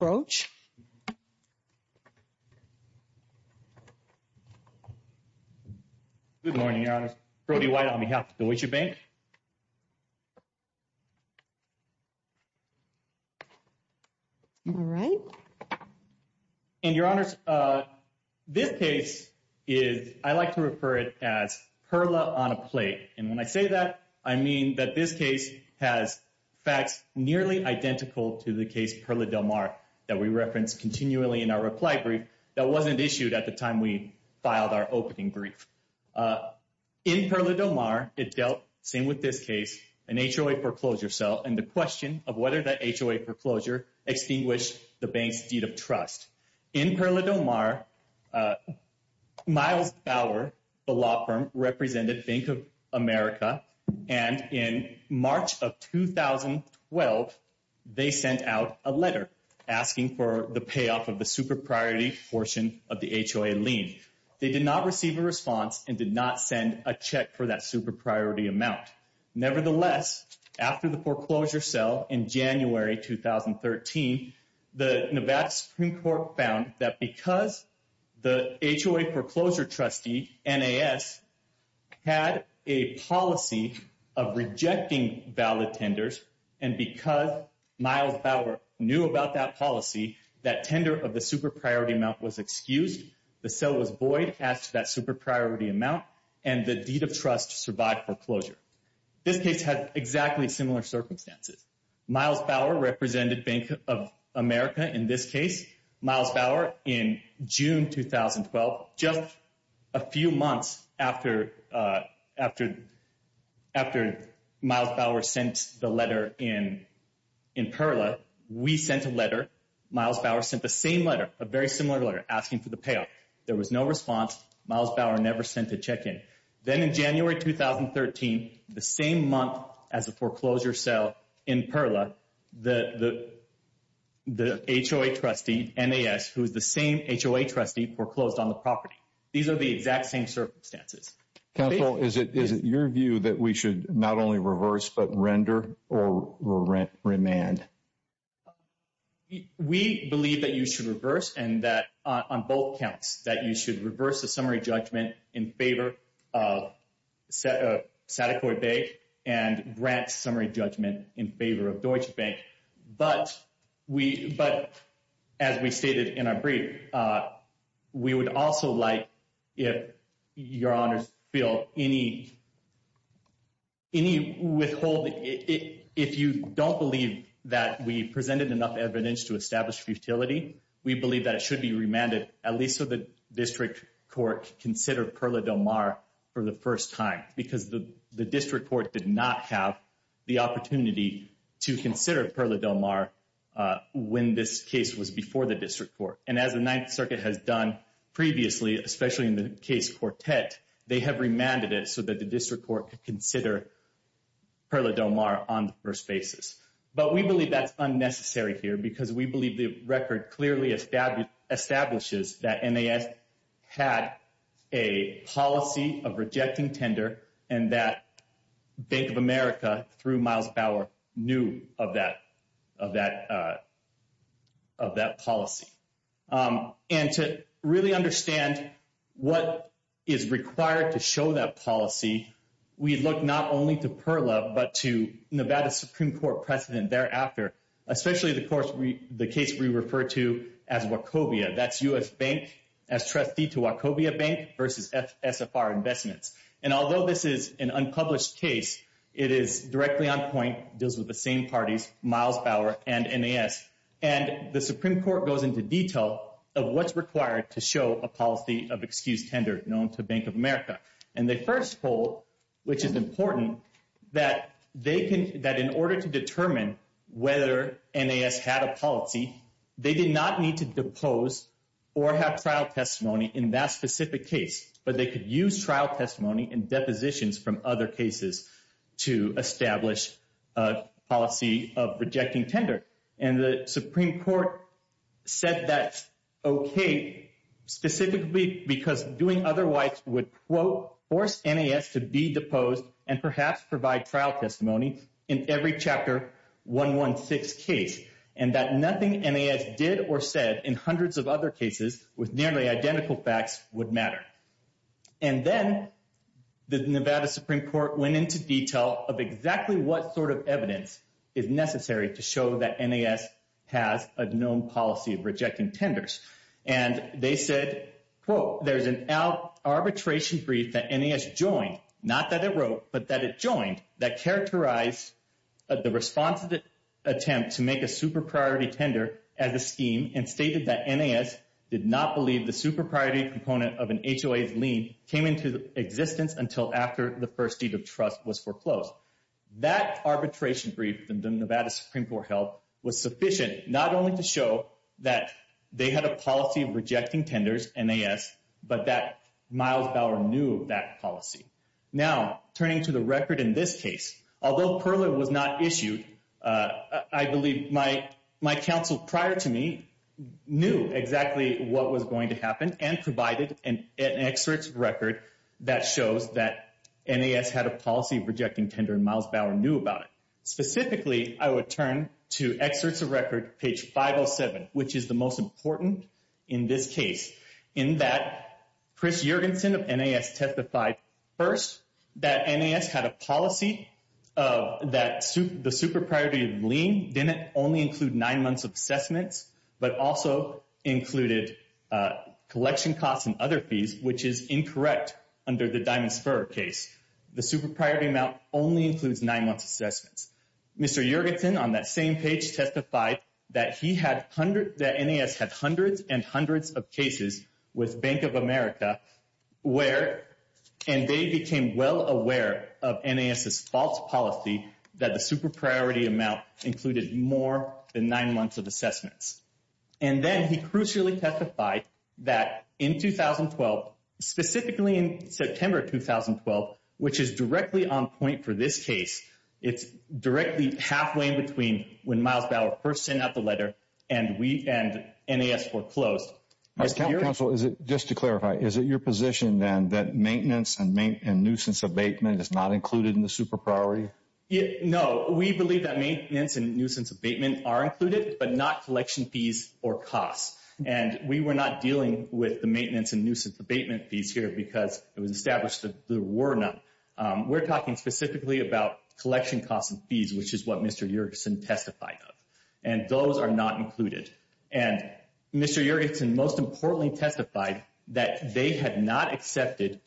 Broach. Good morning, Your Honors. Brody White on behalf of Deutsche Bank. All right. And Your Honors, this case is, I like to refer it as Perla on a plate. And when I say that, I mean that this case has facts nearly identical to the case Perla del Mar that we reference continually in our reply brief that wasn't issued at the time we filed our opening brief. In Perla del Mar, it dealt, same with this case, an HOA foreclosure cell and the question of whether that HOA foreclosure extinguished the bank's deed of trust. In Perla del Mar, Miles Bauer, the law firm, represented Bank of America. And in March of 2012, they sent out a letter asking for the payoff of the super priority portion of the HOA lien. They did not receive a response and did not send a check for that super priority amount. Nevertheless, after the foreclosure cell in January 2013, the Nevada Supreme Court found that because the HOA foreclosure trustee, NAS, had a policy of rejecting valid tenders, and because Miles Bauer knew about that policy, that tender of the super priority amount was excused. The cell was void as to that super priority amount and the deed of trust survived foreclosure. This case had exactly similar circumstances. Miles Bauer represented Bank of America in this case. Miles Bauer, in June 2012, just a few months after Miles Bauer sent the letter in Perla, we sent a letter. Miles Bauer sent the same letter, a very similar letter, asking for the payoff. There was no response. Miles Bauer never sent a check in. Then in January 2013, the same month as the foreclosure cell in Perla, the HOA trustee, NAS, who is the same HOA trustee, foreclosed on the property. These are the exact same circumstances. Counsel, is it your view that we should not only reverse but render or remand? We believe that you should reverse and that on both counts, that you should reverse the Sadaquoi Bank and grant summary judgment in favor of Deutsche Bank. But as we stated in our brief, we would also like if your honors feel any withholding. If you don't believe that we presented enough evidence to establish futility, we believe that it should be remanded at least so the district court consider Perla Del Mar for the first time because the district court did not have the opportunity to consider Perla Del Mar when this case was before the district court. And as the Ninth Circuit has done previously, especially in the case Quartet, they have remanded it so that the district court could consider Perla Del Mar on the first basis. But we believe that's unnecessary here because we believe the record clearly establishes that had a policy of rejecting tender and that Bank of America through Miles Bauer knew of that policy. And to really understand what is required to show that policy, we look not only to Perla but to Nevada Supreme Court precedent thereafter, especially the case we refer to as Wachovia. That's U.S. Bank as trustee to Wachovia Bank versus SFR Investments. And although this is an unpublished case, it is directly on point, deals with the same parties, Miles Bauer and NAS. And the Supreme Court goes into detail of what's required to show a policy of excused tender known to Bank of America. And the first poll, which is important, that in order to determine whether NAS had a policy, they did not need to depose or have trial testimony in that specific case. But they could use trial testimony and depositions from other cases to establish a policy of rejecting tender. And the Supreme Court said that's okay, specifically because doing otherwise would, quote, force NAS to be deposed and perhaps provide trial testimony in every Chapter 116 case. And that nothing NAS did or said in hundreds of other cases with nearly identical facts would matter. And then the Nevada Supreme Court went into detail of exactly what sort of evidence is necessary to show that NAS has a known policy of rejecting tenders. And they said, quote, there's an arbitration brief that NAS joined, not that it the response attempt to make a super priority tender as a scheme and stated that NAS did not believe the super priority component of an HOA's lien came into existence until after the first deed of trust was foreclosed. That arbitration brief, the Nevada Supreme Court held, was sufficient not only to show that they had a policy of rejecting tenders, NAS, but that Miles Bauer knew of that policy. Now, turning to the record in this case, although Perler was not issued, I believe my counsel prior to me knew exactly what was going to happen and provided an excerpt record that shows that NAS had a policy of rejecting tender and Miles Bauer knew about it. Specifically, I would turn to excerpts of record, page 507, which is the most important in this case, in that Chris Juergensen of NAS testified first that NAS had a policy of that the super priority of lien didn't only include nine months of assessments, but also included collection costs and other fees, which is incorrect under the Diamond Spur case. The super priority amount only includes nine months assessments. Mr. Juergensen on that same testified that NAS had hundreds and hundreds of cases with Bank of America where, and they became well aware of NAS's false policy that the super priority amount included more than nine months of assessments. And then he crucially testified that in 2012, specifically in September 2012, which is directly on point for this case, it's directly halfway in between when Miles Bauer first sent out the letter and NAS foreclosed. Counsel, just to clarify, is it your position then that maintenance and nuisance abatement is not included in the super priority? No, we believe that maintenance and nuisance abatement are included, but not collection fees or costs. And we were not dealing with the maintenance and nuisance abatement fees here because it was established that there were none. We're talking specifically about collection costs and fees, which is what Mr. Juergensen testified of. And those are not included. And Mr. Juergensen most importantly testified that they had not accepted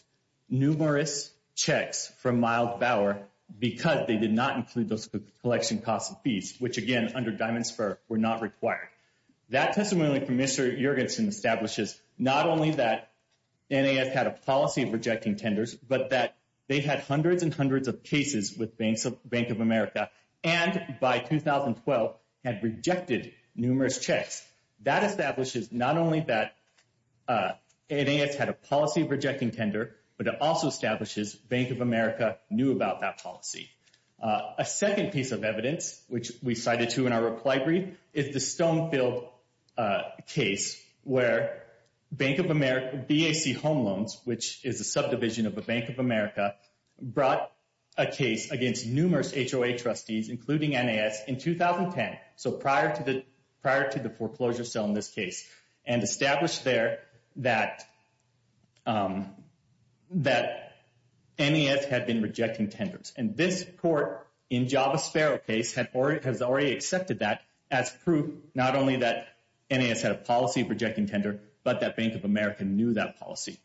numerous checks from Miles Bauer because they did not include those collection costs and fees, which again, under Diamond Spur were not rejecting tenders, but that they had hundreds and hundreds of cases with Bank of America, and by 2012 had rejected numerous checks. That establishes not only that NAS had a policy of rejecting tender, but it also establishes Bank of America knew about that policy. A second piece of evidence, which we cited to in our reply brief, is the Stonefield case where Bank of America, BAC Home Loans, which is a subdivision of the Bank of America, brought a case against numerous HOA trustees, including NAS in 2010. So prior to the foreclosure sale in this case, and established there that NAS had been rejecting tenders. And this court in Java Sparrow case has already accepted that as proof not only that NAS had a policy of rejecting tender, but that Bank of America knew that policy.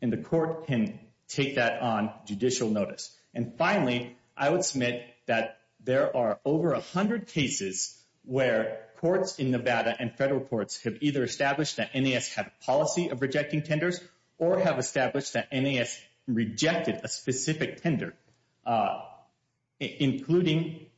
And the court can take that on judicial notice. And finally, I would submit that there are over 100 cases where courts in Nevada and federal courts have either established that NAS had a policy of rejecting tenders, or have established that NAS rejected a specific tender, including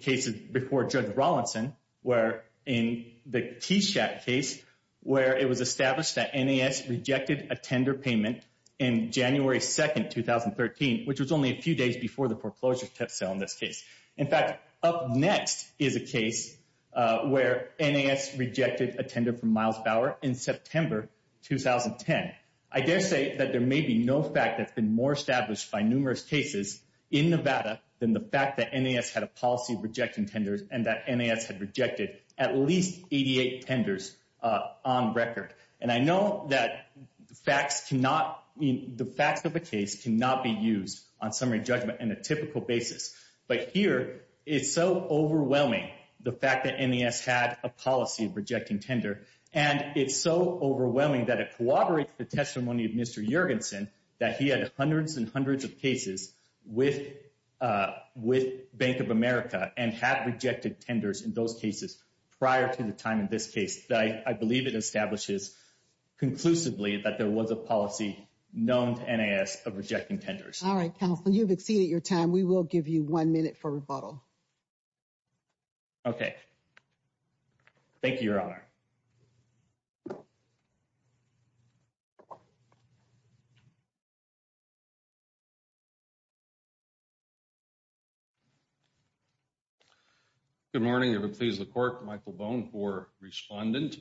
cases before Judge Rawlinson, where in the Keyshack case, where it was established that NAS rejected a tender payment in January 2nd, 2013, which was only a few days before the foreclosure sale in this case. In fact, up next is a case where NAS rejected a tender from Miles Bauer in September 2010. I dare say that there may be no fact that's been more established by numerous cases in Nevada than the fact that NAS had a policy of rejecting tenders, and that NAS had rejected at least 88 tenders on record. And I know that the facts of a case cannot be used on summary judgment in a typical basis. But here, it's so overwhelming, the fact that NAS had a policy of rejecting tender. And it's so overwhelming that it corroborates the testimony of Mr. Jorgensen, that he had hundreds and hundreds of cases with Bank of America, and had rejected tenders in those cases prior to the time in this case. I believe it establishes conclusively that there was a policy known to NAS of rejecting tenders. All right, counsel, you've exceeded your time. We will give you one minute for rebuttal. Okay. Thank you, Your Honor. Good morning. If it please the court, Michael Bone for respondent.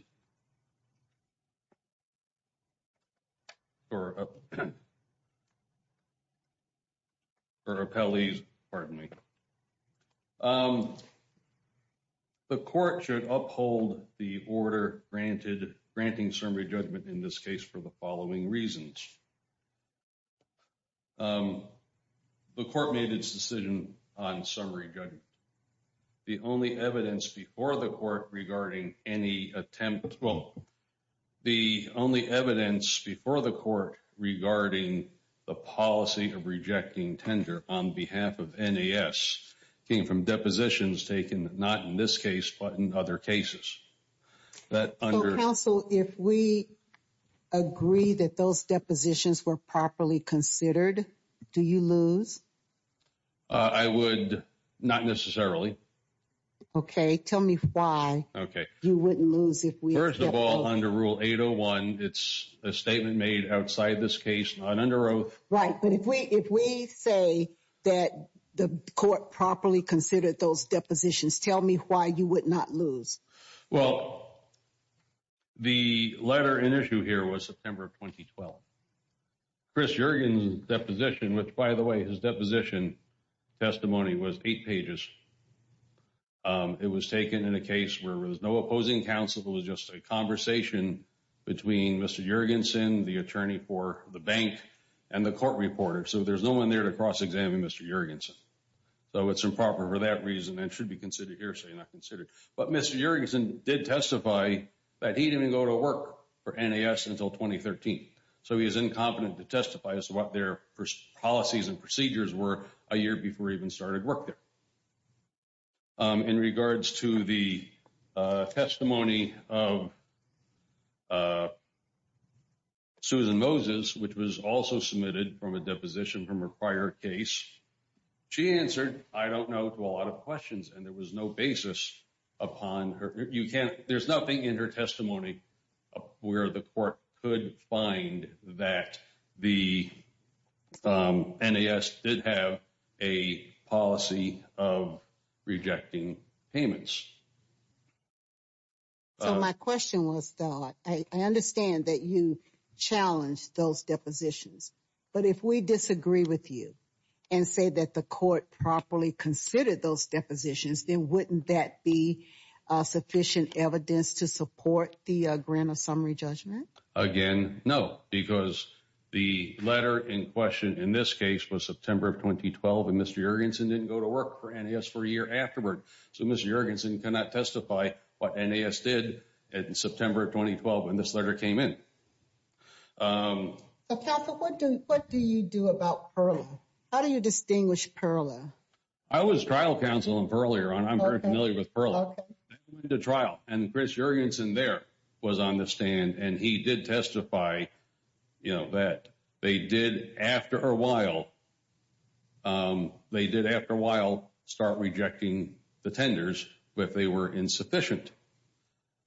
For appellees, pardon me. The court should uphold the order granted, granting summary judgment in this case for the following reasons. The court made its decision on summary judgment. The only evidence before the court regarding any attempt, well, the only evidence before the court regarding the policy of rejecting tender on behalf of NAS came from depositions taken, not in this case, but in other cases. So, counsel, if we agree that those depositions were properly considered, do you lose? I would not necessarily. Okay, tell me why. Okay. You wouldn't lose if we- First of all, under Rule 801, it's a statement made outside this case, not under oath. Right, but if we say that the court properly considered those depositions, tell me why you would not lose? Well, the letter in issue here was September of 2012. Chris Juergen's deposition, which by the way, his deposition testimony was eight pages. It was taken in a case where there was no opposing counsel. It was just a conversation between Mr. Juergensen, the attorney for the bank, and the court reporter. So, there's no one there to cross-examine Mr. Juergensen. So, it's improper for that reason and should be considered hearsay, not considered. But Mr. Juergensen did testify that he didn't even go to work for NAS until 2013. So, he's incompetent to testify as to what their policies and procedures were a year before he even started work there. In regards to the testimony of Susan Moses, which was also submitted from a deposition from a prior case, she answered, I don't know, to a lot of questions. And there was no basis upon her. You can't, there's nothing in her testimony where the court could find that the NAS did have a policy of rejecting payments. So, my question was, I understand that you challenged those depositions. But if we disagree with you and say that the court properly considered those depositions, then wouldn't that be sufficient evidence to support the grant of summary judgment? Again, no. Because the letter in question in this case was September of 2012. And Mr. Juergensen didn't go to work for NAS for a year afterward. So, Mr. Juergensen cannot testify what NAS did in September of 2012 when this letter came in. So, Patrick, what do you do about Perla? How do you distinguish Perla? I was trial counsel on Perla. I'm very familiar with Perla. Okay. The trial and Chris Juergensen there was on the stand. And he did testify that they did after a while, they did after a while start rejecting the tenders, but they were insufficient.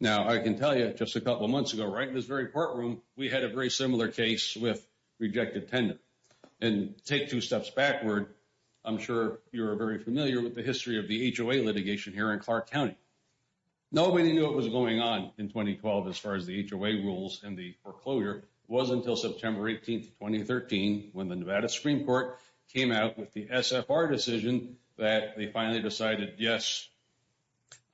Now, I can tell you just a couple of months ago, right in this very courtroom, we had a very similar case with rejected tender. And take two steps backward. I'm sure you're very in Clark County. Nobody knew what was going on in 2012 as far as the HOA rules and the foreclosure was until September 18th, 2013, when the Nevada Supreme Court came out with the SFR decision that they finally decided, yes,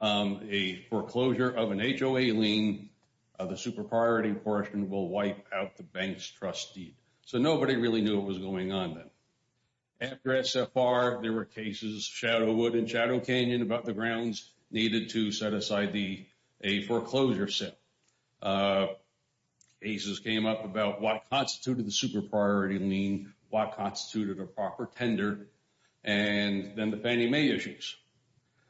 a foreclosure of an HOA lien, the super priority portion will wipe out the bank's trustee. So, nobody really knew what was going on then. After SFR, there were Shadowwood and Shadow Canyon about the grounds needed to set aside a foreclosure set. Cases came up about what constituted the super priority lien, what constituted a proper tender, and then the Fannie Mae issues.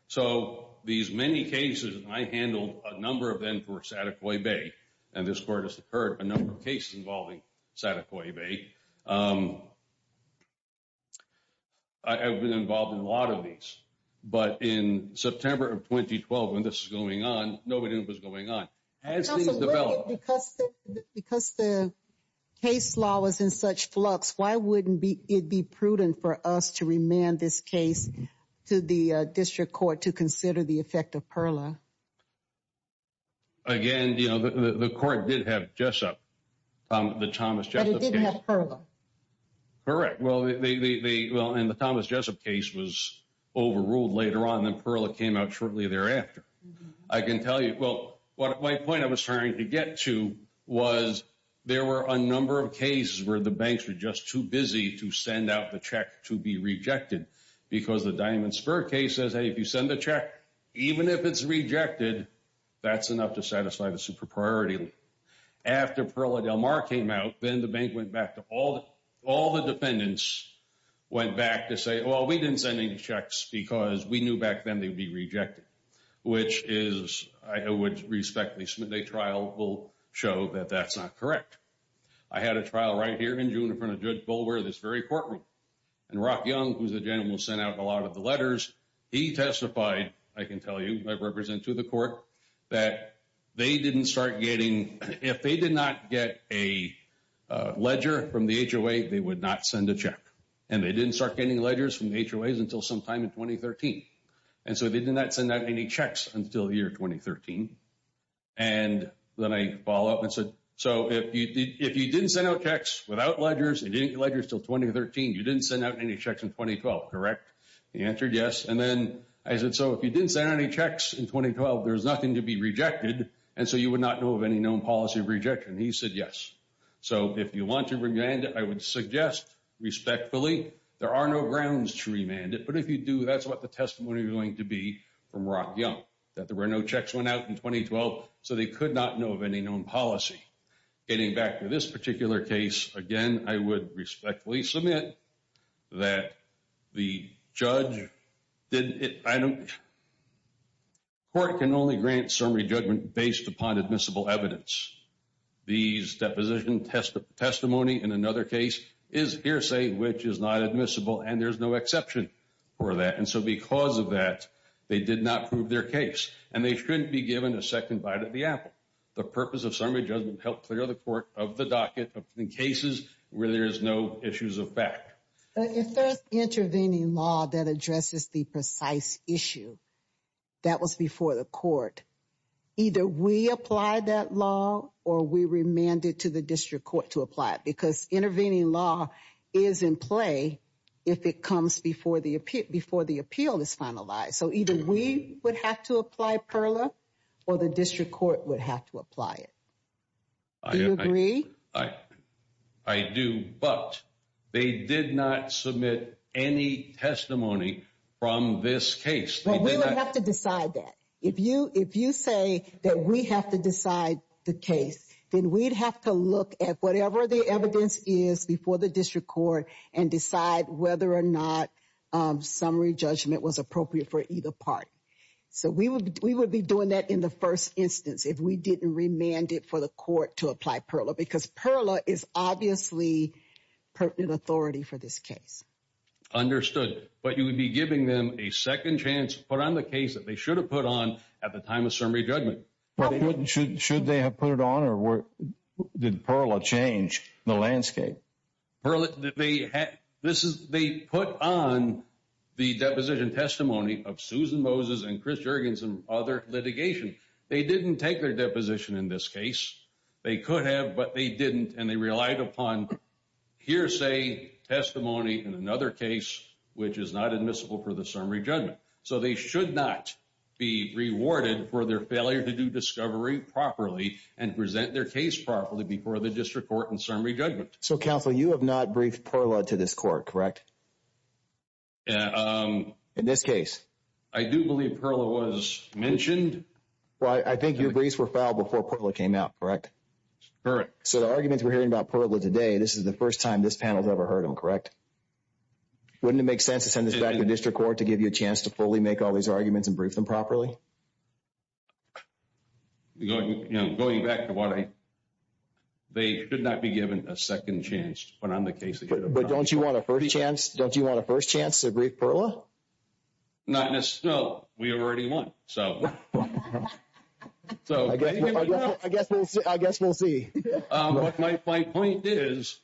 So, these many cases, I handled a number of them for a lot of these. But in September of 2012, when this is going on, nobody knew what was going on. Because the case law was in such flux, why wouldn't it be prudent for us to remand this case to the district court to consider the effect of PERLA? Again, the court did have Jessup, the Thomas Jessup case. But it didn't have PERLA. Correct. Well, and the Thomas Jessup case was overruled later on, and PERLA came out shortly thereafter. I can tell you, well, my point I was trying to get to was there were a number of cases where the banks were just too busy to send out the check to be rejected. Because the Diamond Spur case says, hey, if you send the check, even if it's rejected, that's enough to satisfy the super priority. After PERLA Del Mar came out, then the bank went back to all the defendants, went back to say, well, we didn't send any checks because we knew back then they'd be rejected, which is, I would respect the Smithday trial will show that that's not correct. I had a trial right here in June in front of Judge Bulwer, this very courtroom. And Rock Young, who's the gentleman who sent out a lot of the letters, he testified, I can tell you, I represent to the court that they didn't start getting, if they did not get a ledger from the HOA, they would not send a check. And they didn't start getting ledgers from the HOAs until sometime in 2013. And so they did not send out any checks until the year 2013. And then I follow up and said, so if you didn't send out checks without ledgers and didn't get ledgers until 2013, you didn't send out any checks in 2012, correct? He answered yes. And then I said, so if you didn't send any checks in 2012, there's nothing to be rejected. And so you would not know of any known policy of rejection. He said, yes. So if you want to remand it, I would suggest respectfully, there are no grounds to remand it. But if you do, that's what the testimony is going to be from Rock Young, that there were no checks went out in 2012. So they could not know of any known policy. Getting back to this particular case, again, I would respectfully submit that the judge did it. I know court can only grant summary judgment based upon admissible evidence. These deposition testimony in another case is hearsay, which is not admissible. And there's no exception for that. And so because of that, they did not prove their case. And they shouldn't be given a second bite at the apple. The purpose of summary judgment helped clear the court of the precise issue that was before the court. Either we apply that law or we remand it to the district court to apply it. Because intervening law is in play if it comes before the appeal is finalized. So either we would have to apply PERLA or the district court would have to apply it. Do you from this case? Well, we would have to decide that. If you say that we have to decide the case, then we'd have to look at whatever the evidence is before the district court and decide whether or not summary judgment was appropriate for either part. So we would be doing that in the first instance if we didn't remand it for the court to apply PERLA. Because PERLA is obviously pertinent authority for this case. Understood. But you would be giving them a second chance to put on the case that they should have put on at the time of summary judgment. Should they have put it on or did PERLA change the landscape? They put on the deposition testimony of Susan Moses and Chris Juergens and other litigation. They didn't take their deposition in this case. They could have, but they didn't. And they relied upon hearsay testimony in another case, which is not admissible for the summary judgment. So they should not be rewarded for their failure to do discovery properly and present their case properly before the district court and summary judgment. So counsel, you have not briefed PERLA to this court, correct? In this case? I do believe PERLA was mentioned. Well, I think your briefs were today. This is the first time this panel has ever heard them, correct? Wouldn't it make sense to send this back to the district court to give you a chance to fully make all these arguments and brief them properly? Going back to what I, they could not be given a second chance when on the case. But don't you want a first chance? Don't you want a first chance to brief PERLA? Not necessarily. No, we already won. So I guess we'll see. My point is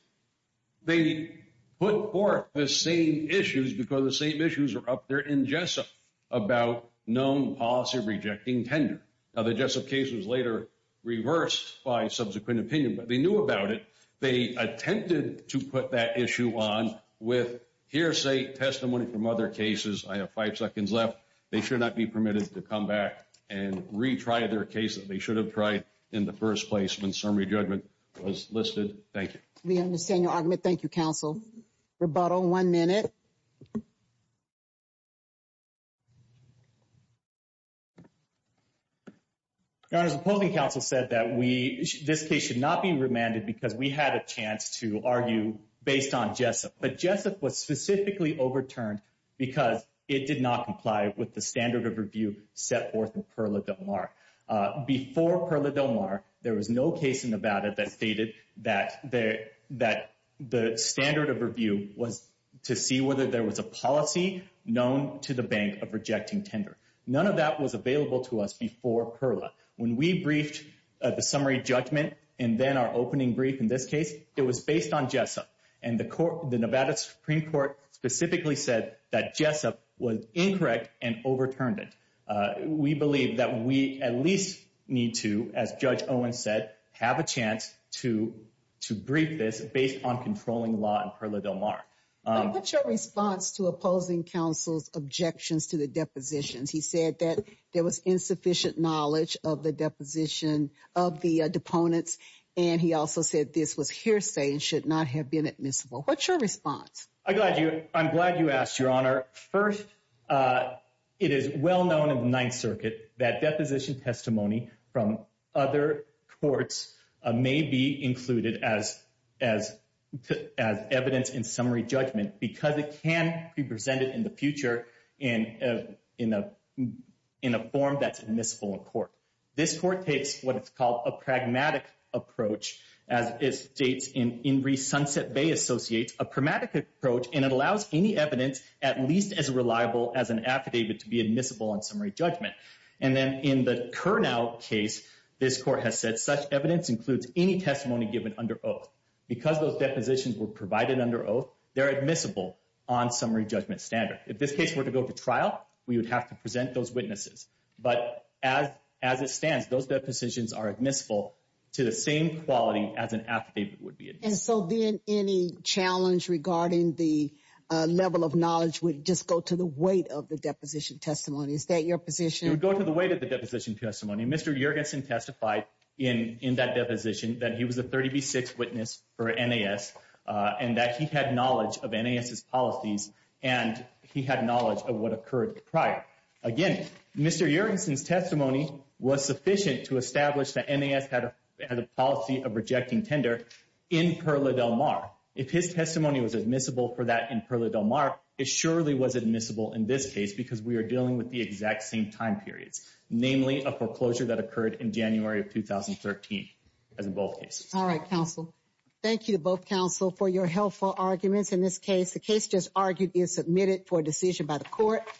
they put forth the same issues because the same issues are up there in Jessup about known policy rejecting tender. Now, the Jessup case was later reversed by subsequent opinion, but they knew about it. They attempted to put that issue on with hearsay testimony from other cases. I have five seconds left. They should not be permitted to come back and retry their case that they should have tried in the first place when summary judgment was listed. Thank you. We understand your argument. Thank you, counsel. Rebuttal, one minute. Your Honor, the polling council said that we, this case should not be remanded because we had a chance to argue based on Jessup. But Jessup was specifically overturned because it did not comply with the standard of review set forth in PERLA Del Mar. Before PERLA Del Mar, there was no case in Nevada that stated that the standard of review was to see whether there was a policy known to the bank of rejecting tender. None of that was available to us before PERLA. When we briefed the summary judgment and then our opening brief in this case, it was based on Jessup. And the Nevada Supreme Court specifically said that Jessup was incorrect and overturned it. We believe that we at least need to, as Judge Owen said, have a chance to brief this based on controlling law in PERLA Del Mar. What's your response to opposing counsel's objections to the knowledge of the deposition of the deponents? And he also said this was hearsay and should not have been admissible. What's your response? I'm glad you asked, Your Honor. First, it is well known in the Ninth Circuit that deposition testimony from other courts may be included as evidence in summary judgment because it can be presented in the future in a form that's admissible in court. This court takes what is called a pragmatic approach, as it states in Inree Sunset Bay Associates, a pragmatic approach, and it allows any evidence at least as reliable as an affidavit to be admissible in summary judgment. And then in the Kurnow case, this court has said such evidence includes any testimony given under oath. Because those depositions were provided under oath, they're admissible on summary judgment standard. If this case were to go to trial, we would have to present those witnesses. But as it stands, those depositions are admissible to the same quality as an affidavit would be. And so then any challenge regarding the level of knowledge would just go to the weight of the deposition testimony. Is that your position? It would go to the weight of the deposition testimony. Mr. Juergensen testified in that deposition that he was a 30B6 witness for NAS and that he had knowledge of NAS's policies and he had knowledge of what occurred prior. Again, Mr. Juergensen's testimony was sufficient to establish that NAS had a policy of rejecting tender in Perla del Mar. If his testimony was admissible for that in Perla del Mar, it surely was admissible in this case because we are dealing with the exact same time periods, namely a foreclosure that occurred in January of 2013 as in both cases. All right, counsel. Thank you to both counsel for your helpful arguments in this case. The case just argued is submitted for decision by the court.